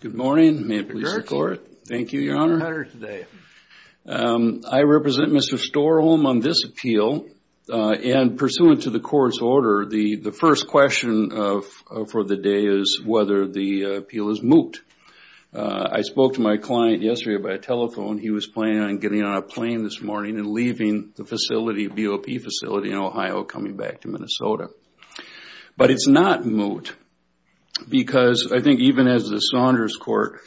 Good morning. May it please the court. Thank you, Your Honor. I represent Mr. Storholm on this appeal and pursuant to the court's order, the first question for the day is whether the appeal is moot. I spoke to my client yesterday by telephone. He was planning on getting on a plane this morning and leaving the facility, BOP facility in Ohio, coming back to Minnesota. But it's not moot because I think even as the Saunders court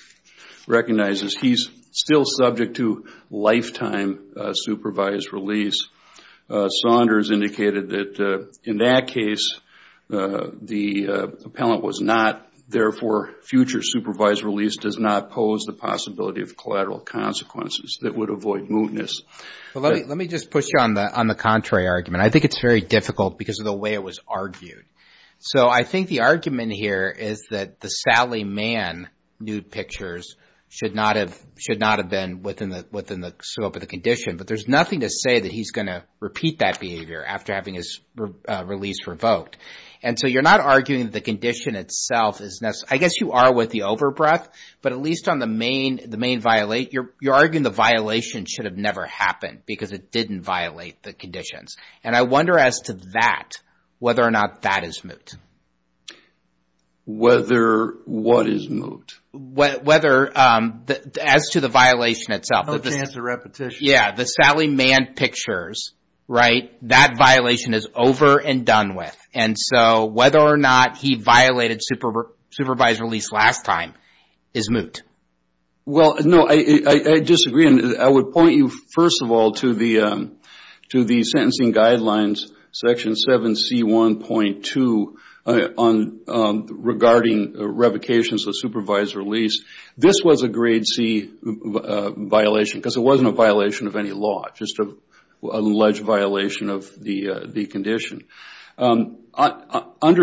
recognizes, he's still subject to lifetime supervised release. Saunders indicated that in that case, the appellant was not, therefore, future supervised release does not pose the possibility of collateral consequences that would avoid mootness. Let me just push you on the contrary argument. I think it's very difficult because of the way it was argued. I think the argument here is that the Sally Mann nude pictures should not have been within the scope of the condition. But there's nothing to say that he's going to repeat that behavior after having his release revoked. You're not arguing that the condition itself is necessary. I guess you are with the overbreath, but at least on the main violate, you're arguing the violation should have never happened because it didn't violate the conditions. I wonder as to that, whether or not that is moot. Whether what is moot? Whether as to the violation itself. No chance of repetition. Yeah. The Sally Mann pictures, that violation is over and done with. Whether or not he violated supervised release last time is moot. Well, no. I disagree. I would point you, first of all, to the sentencing guidelines, Section 7C1.2 regarding revocations of supervised release. This was a grade C violation because it wasn't a violation of any law. Just an alleged violation of the condition. Under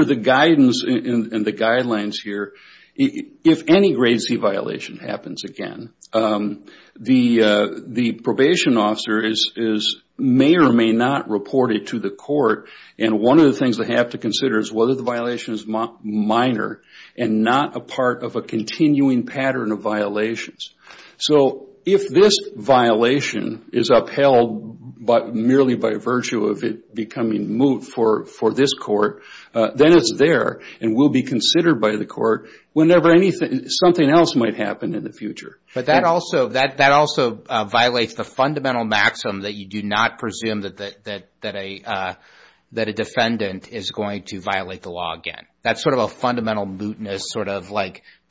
the guidance and the guidelines here, if any grade C violation happens again, the probation officer may or may not report it to the court. One of the things they have to consider is whether the violation is minor and not a part of a continuing pattern of violations. If this violation is upheld merely by virtue of it becoming moot for this court, then it's there and will be considered by the court whenever something else might happen in the future. That also violates the fundamental maxim that you do not presume that a defendant is going to violate the law again. That's a fundamental mootness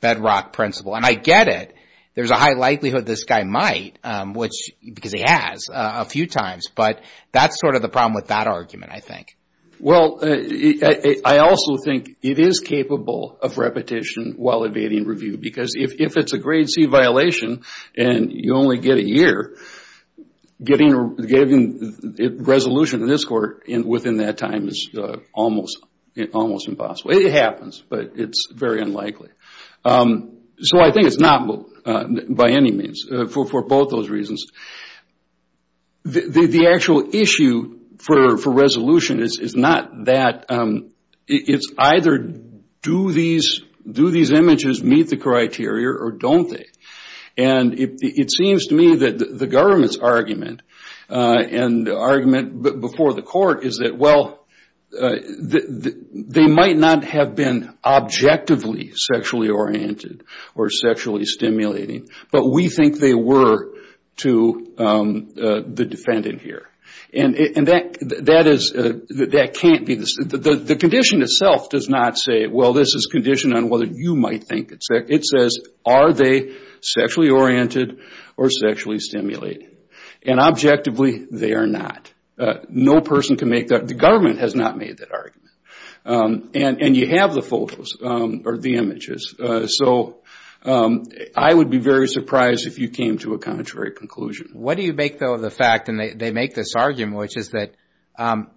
bedrock principle. I get it. There's a high likelihood this guy might because he has a few times, but that's the problem with that argument, I think. Well, I also think it is capable of repetition while evading review because if it's a grade C violation and you only get a year, getting resolution in this court within that time is almost impossible. It happens, but it's very unlikely. I think it's not moot by any of these reasons. The actual issue for resolution is not that. It's either do these images meet the criteria or don't they? It seems to me that the government's argument before the court is that they might not have been objectively sexually oriented or sexually stimulating, but we think they were to the defendant here. The condition itself does not say, well, this is conditioned on whether you might think. It says, are they sexually oriented or sexually stimulating? Objectively, they are not. No person can make that. The government has not made that argument. You have the photos or the images. I would be very surprised if you came to a contrary conclusion. What do you make, though, of the fact, and they make this argument, which is that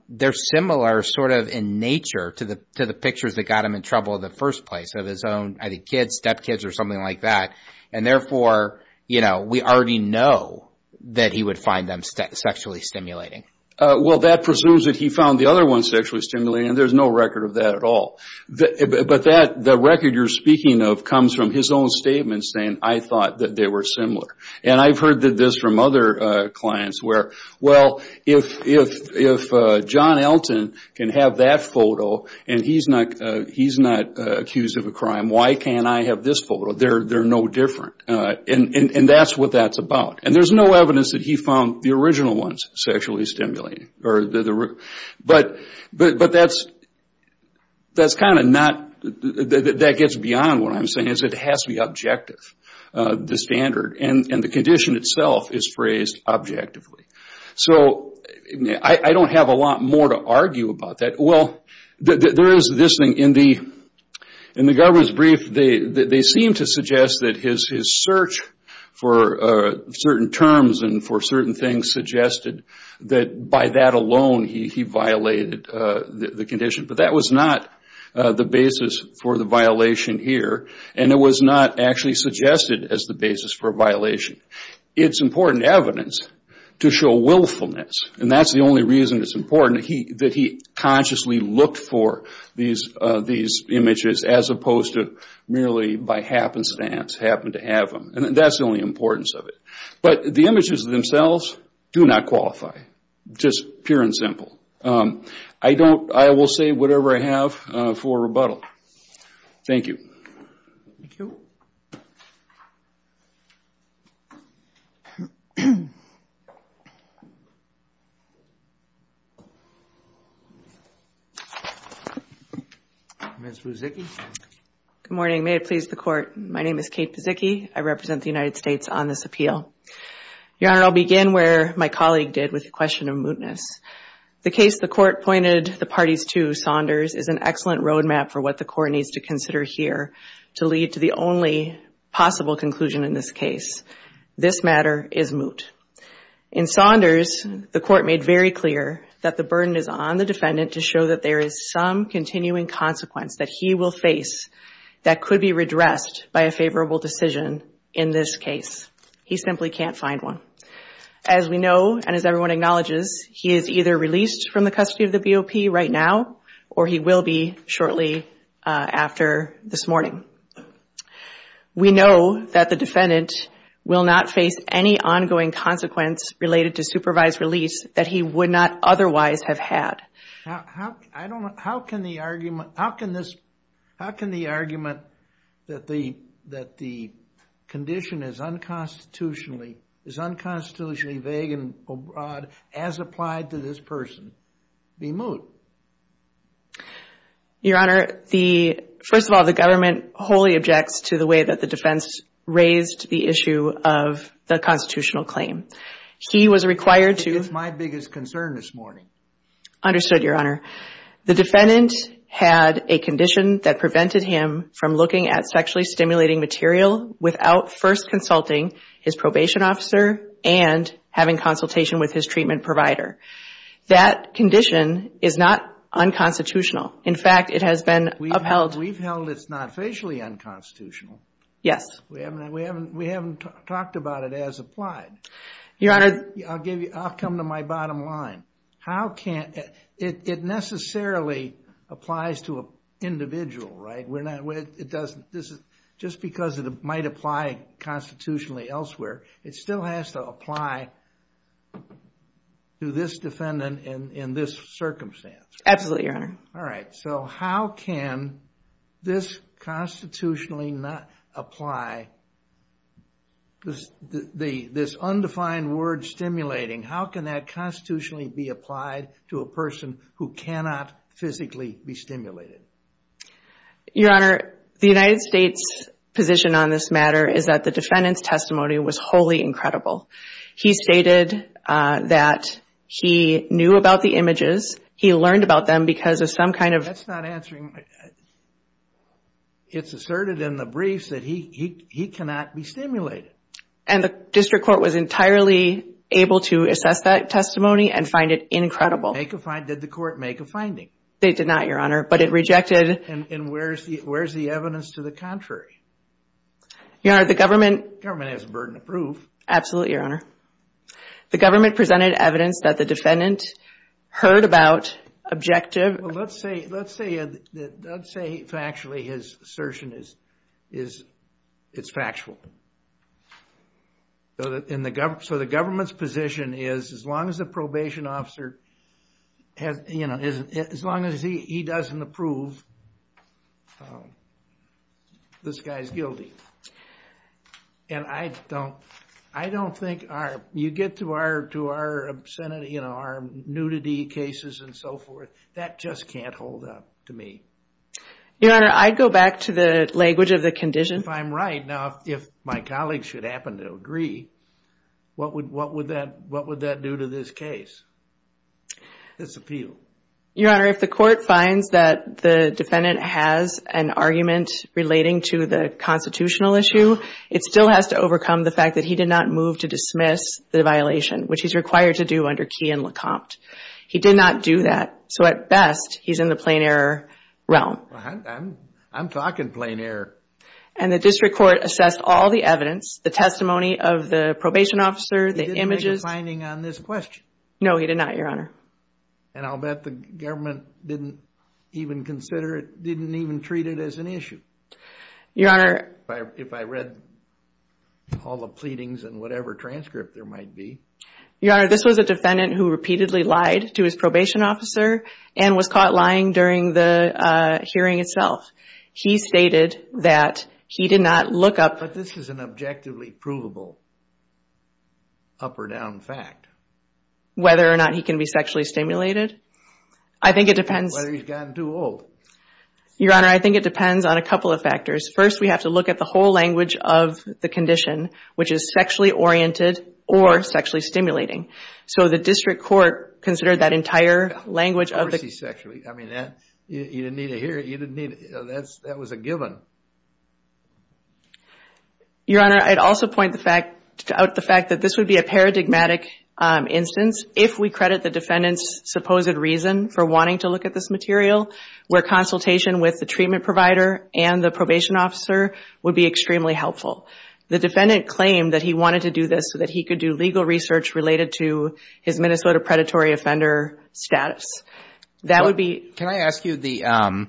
they're similar sort of in nature to the pictures that got him in trouble in the first place of his own, I think, kids, stepkids or something like that. Therefore, we already know that he would find them sexually stimulating. That presumes that he found the other one sexually stimulating. There's no record of that at all. The record you're speaking of comes from his own statement saying, I thought that they were similar. I've heard this from other clients where, well, if John Elton can have that photo and he's not accused of a crime, why can't I have this photo? They're no different. That's what that's about. There's no evidence that he found the original ones sexually stimulating. That gets beyond what I'm saying. It has to be objective, the standard. The condition itself is phrased objectively. I don't have a lot more to argue about that. In the government's brief, they seem to suggest that his search for certain terms and for certain things suggested that by that alone he violated the condition. That was not the basis for the violation here. It was not actually suggested as the basis for a violation. It's important evidence to show willfulness. That's the only reason it's important that he consciously looked for these images as opposed to merely by happenstance happen to have them. That's the only importance of it. The images themselves do not qualify, just pure and simple. I will say whatever I have for rebuttal. Thank you. Ms. Buzicki? Good morning. May it please the Court. My name is Kate Buzicki. I represent the United States on this appeal. Your Honor, I'll begin where my colleague did with the question of mootness. The case the Court pointed the parties to, Saunders, is an excellent road map for what the Court needs to consider here to lead to the only possible conclusion in this case. This matter is moot. In Saunders, the Court made very clear that the burden is on the defendant's face that could be redressed by a favorable decision in this case. He simply can't find one. As we know and as everyone acknowledges, he is either released from the custody of the BOP right now or he will be shortly after this morning. We know that the defendant will not face any ongoing consequence related to supervised release that he would not otherwise have had. How can the argument that the condition is unconstitutionally vague and broad as applied to this person be moot? Your Honor, first of all, the government wholly objects to the way that the defense raised the issue of the constitutional claim. He was required to raise my biggest concern this morning. Understood, Your Honor. The defendant had a condition that prevented him from looking at sexually stimulating material without first consulting his probation officer and having consultation with his treatment provider. That condition is not unconstitutional. In fact, it has been upheld. We've held it's not facially unconstitutional. Yes. We haven't talked about it as applied. I'll come to my bottom line. It necessarily applies to an individual, right? Just because it might apply constitutionally elsewhere, it still has to apply to this defendant in this circumstance. Absolutely, Your Honor. All right. How can this constitutionally not apply this unconstitutional undefined word stimulating? How can that constitutionally be applied to a person who cannot physically be stimulated? Your Honor, the United States' position on this matter is that the defendant's testimony was wholly incredible. He stated that he knew about the images. He learned about them because of some kind of... That's not answering... It's asserted in the briefs that he cannot be stimulated. And the district court was entirely able to assess that testimony and find it incredible. Did the court make a finding? They did not, Your Honor, but it rejected... And where's the evidence to the contrary? Your Honor, the government... The government has a burden of proof. Absolutely, Your Honor. The government presented evidence that the defendant heard about objective... Well, let's say factually his assertion is factual. So the government's position is as long as the probation officer... As long as he doesn't approve, this guy's guilty. And I don't think our... You get to our nudity cases and so forth. That just can't hold up to me. Your Honor, I'd go back to the language of the condition. If I'm right now, if my colleagues should happen to agree, what would that do to this case? This appeal? Your Honor, if the court finds that the defendant has an argument relating to the constitutional issue, it still has to overcome the fact that he did not move to dismiss the violation, which he's required to do under Key and Lecomte. He did not do that. So at best, he's in the plain error realm. I'm talking plain error. And the district court assessed all the evidence, the testimony of the probation officer, the images... He didn't make a finding on this question. No, he did not, Your Honor. And I'll bet the government didn't even consider it, didn't even treat it as an issue. Your Honor... If I read all the pleadings and whatever transcript there might be. Your Honor, this was a defendant who repeatedly lied to his probation officer and was caught lying during the hearing itself. He stated that he did not look up... But this is an objectively provable up or down fact. Whether or not he can be sexually stimulated? I think it depends... Whether he's gotten too old. Your Honor, I think it depends on a couple of factors. First, we have to look at the whole language of the condition, which is sexually oriented or sexually stimulating. So the district court considered that entire language of the... You didn't need to hear it. That was a given. Your Honor, I'd also point out the fact that this would be a paradigmatic instance if we credit the defendant's supposed reason for wanting to look at this material, where consultation with the treatment provider and the probation officer would be extremely helpful. The defendant claimed that he wanted to do this so that he could do legal research related to his Minnesota predatory offender status. That would be... Can I ask you the...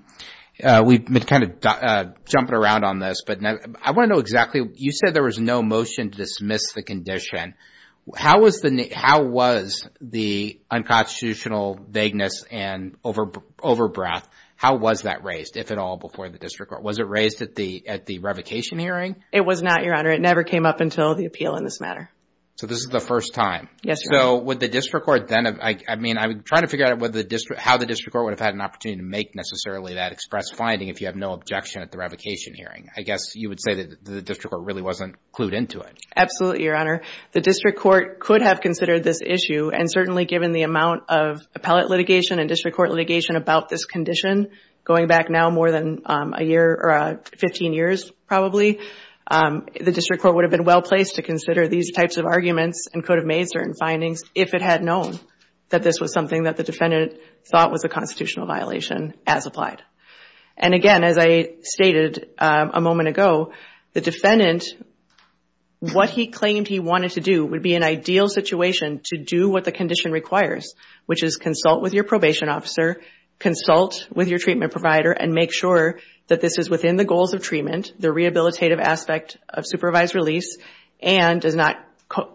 We've been kind of jumping around on this, but I want to know exactly... You said there was no motion to dismiss the condition. How was the unconstitutional vagueness and over-breath, how was that raised, if at all, before the district court? Was it raised at the revocation hearing? It was not, Your Honor. It never came up until the appeal in this matter. So this is the first time. Yes, Your Honor. So would the district court then... I mean, I'm trying to figure out how the district court would have had an opportunity to make necessarily that express finding if you have no objection at the revocation hearing. I guess you would say that the district court really wasn't clued into it. Absolutely, Your Honor. The district court could have considered this issue, and certainly given the amount of appellate litigation and district court litigation about this condition going back now more than a year or 15 years probably, the district court would have been well-placed to consider these types of arguments and could have made certain findings if it had known that this was something that the defendant thought was a constitutional violation as applied. And again, as I stated a moment ago, the defendant, what he claimed he wanted to do would be an ideal situation to do what the condition requires, which is consult with your probation officer, consult with your treatment provider, and make sure that this is within the goals of treatment, the rehabilitative aspect of supervised release, and does not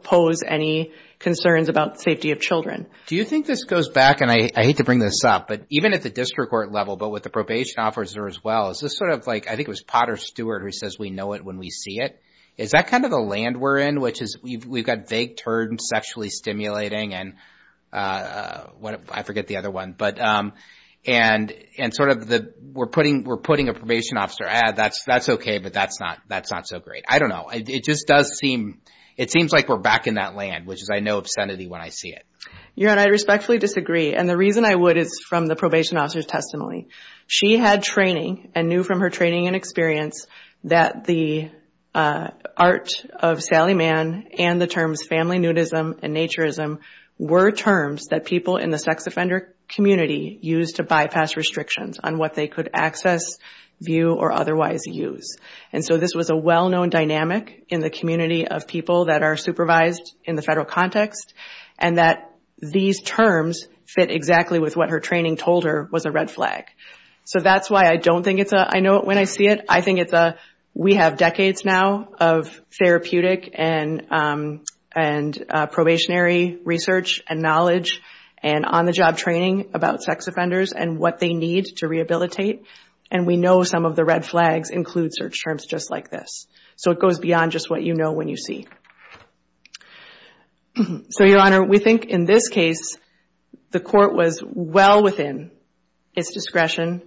pose any concerns about safety of children. Do you think this goes back, and I hate to bring this up, but even at the district court level, but with the probation officer as well, is this sort of like, I think it was Potter Stewart who says, we know it when we see it. Is that kind of the land we're in, which is we've got vague terms, sexually stimulating, and I forget the other one, and sort of we're putting a probation officer, that's okay, but that's not so great. I don't know. It just does seem, it seems like we're back in that land, which is I know obscenity when I see it. Your Honor, I respectfully disagree, and the reason I would is from the probation officer's testimony. She had training and knew from her training and experience that the art of Sally Mann and the terms family nudism and naturism were terms that people in the sex offender community used to bypass restrictions on what they could access, view, or otherwise use. And so this was a well-known dynamic in the community of people that are supervised in the federal context, and that these terms fit exactly with what her training told her was a red flag. So that's why I don't think it's a I know it when I see it. I think it's a we have decades now of therapeutic and probationary research and knowledge and on-the-job training about sex offenders and what they need to rehabilitate, and we know some of the red flags include search terms just like this. So it goes beyond just what you know when you see. So, Your Honor, we think in this case the court was well within its discretion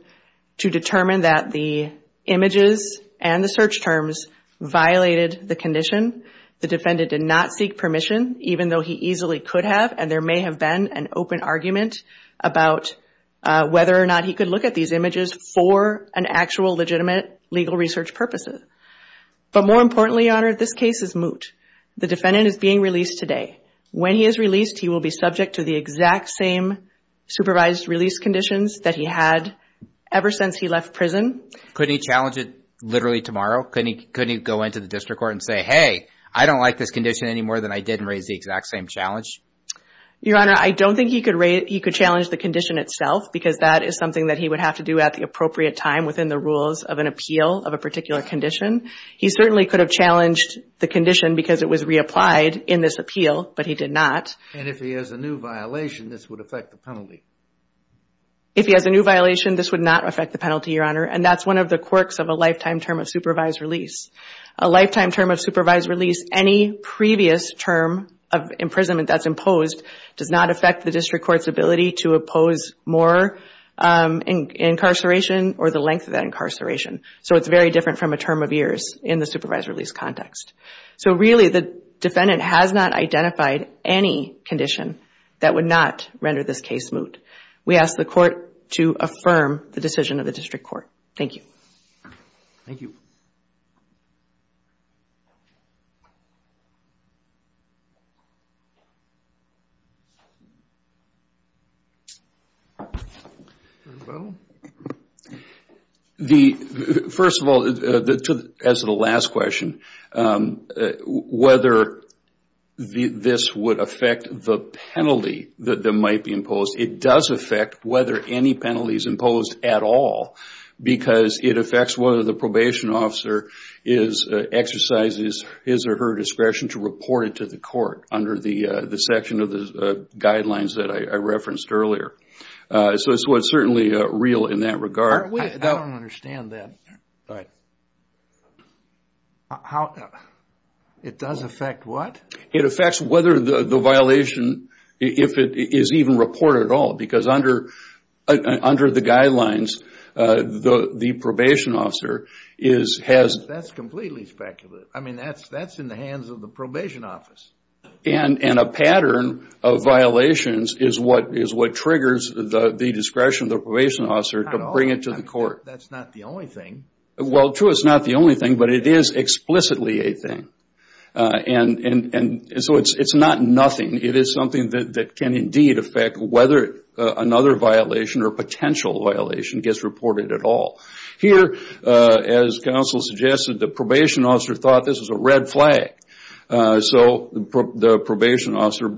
to determine that the images and the search terms violated the condition. The defendant did not seek permission, even though he easily could have, and there may have been an open argument about whether or not he could look at these images for an actual legitimate legal research purposes. But more importantly, Your Honor, this case is moot. The defendant is being released today. When he is released, he will be subject to the exact same supervised release conditions that he had ever since he left prison. Couldn't he challenge it literally tomorrow? Couldn't he go into the district court and say, hey, I don't like this condition any more than I did and raise the exact same challenge? Your Honor, I don't think he could challenge the condition itself because that is something that he would have to do at the appropriate time within the rules of an appeal of a particular condition. He certainly could have challenged the condition because it was reapplied in this appeal, but he did not. And if he has a new violation, this would affect the penalty? If he has a new violation, this would not affect the penalty, Your Honor, and that's one of the quirks of a lifetime term of supervised release. A lifetime term of supervised release, any previous term of imprisonment that's imposed, does not affect the district court's ability to oppose more incarceration or the length of that incarceration. So it's very different from a term of years in the supervised release context. So really the defendant has not identified any condition that would not render this case moot. We ask the court to affirm the decision of the district court. Thank you. Thank you. First of all, as to the last question, whether this would affect the penalty that might be imposed, it does affect whether any penalty is imposed at all because it affects whether the probation officer exercises his or her discretion to report it to the court under the section of the guidelines that I referenced earlier. So it's certainly real in that regard. I don't understand that. It does affect what? It affects whether the violation, if it is even reported at all, because under the guidelines, the probation officer has- That's completely speculative. I mean, that's in the hands of the probation office. And a pattern of violations is what triggers the discretion of the probation officer to bring it to the court. That's not the only thing. Well, true, it's not the only thing, but it is explicitly a thing. And so it's not nothing. It is something that can indeed affect whether another violation or potential violation gets reported at all. Here, as counsel suggested, the probation officer thought this was a red flag. So the probation officer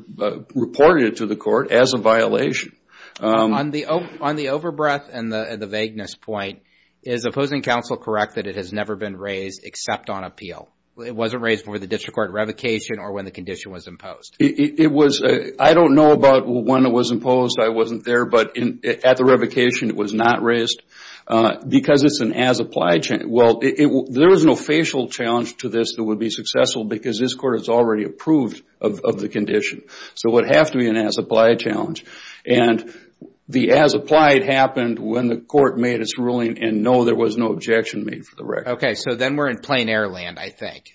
reported it to the court as a violation. On the overbreath and the vagueness point, is opposing counsel correct that it has never been raised except on appeal? It wasn't raised before the district court revocation or when the condition was imposed? I don't know about when it was imposed. I wasn't there. But at the revocation, it was not raised because it's an as-applied challenge. Well, there was no facial challenge to this that would be successful because this court has already approved of the condition. So it would have to be an as-applied challenge. And the as-applied happened when the court made its ruling and, no, there was no objection made for the record. Okay. So then we're in plain error land, I think,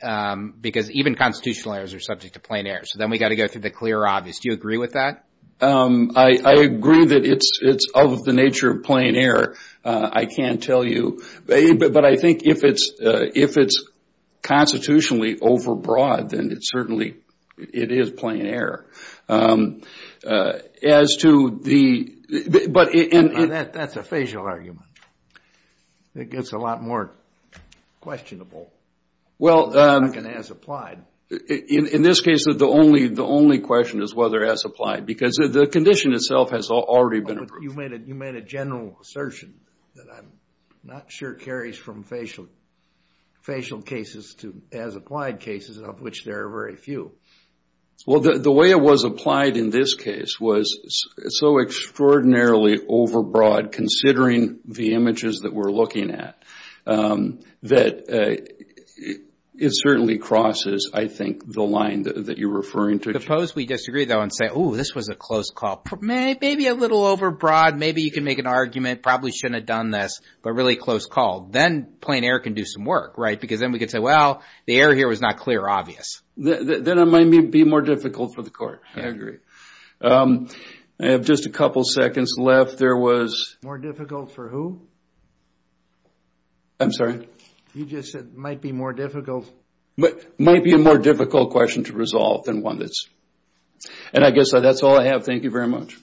because even constitutional errors are subject to plain error. So then we've got to go through the clear or obvious. Do you agree with that? I agree that it's of the nature of plain error. I can't tell you. But I think if it's constitutionally overbroad, then it certainly is plain error. That's a facial argument. It gets a lot more questionable than an as-applied. In this case, the only question is whether as-applied because the condition itself has already been approved. But you made a general assertion that I'm not sure carries from facial cases to as-applied cases, of which there are very few. Well, the way it was applied in this case was so extraordinarily overbroad, considering the images that we're looking at, that it certainly crosses, I think, the line that you're referring to. Suppose we disagree, though, and say, oh, this was a close call. Maybe a little overbroad. Maybe you can make an argument, probably shouldn't have done this, but really close call. Then plain error can do some work, right? Because then we could say, well, the error here was not clear or obvious. Then it might be more difficult for the court. I agree. I have just a couple seconds left. More difficult for who? I'm sorry? You just said might be more difficult. Might be a more difficult question to resolve than one that's... And I guess that's all I have. Thank you very much.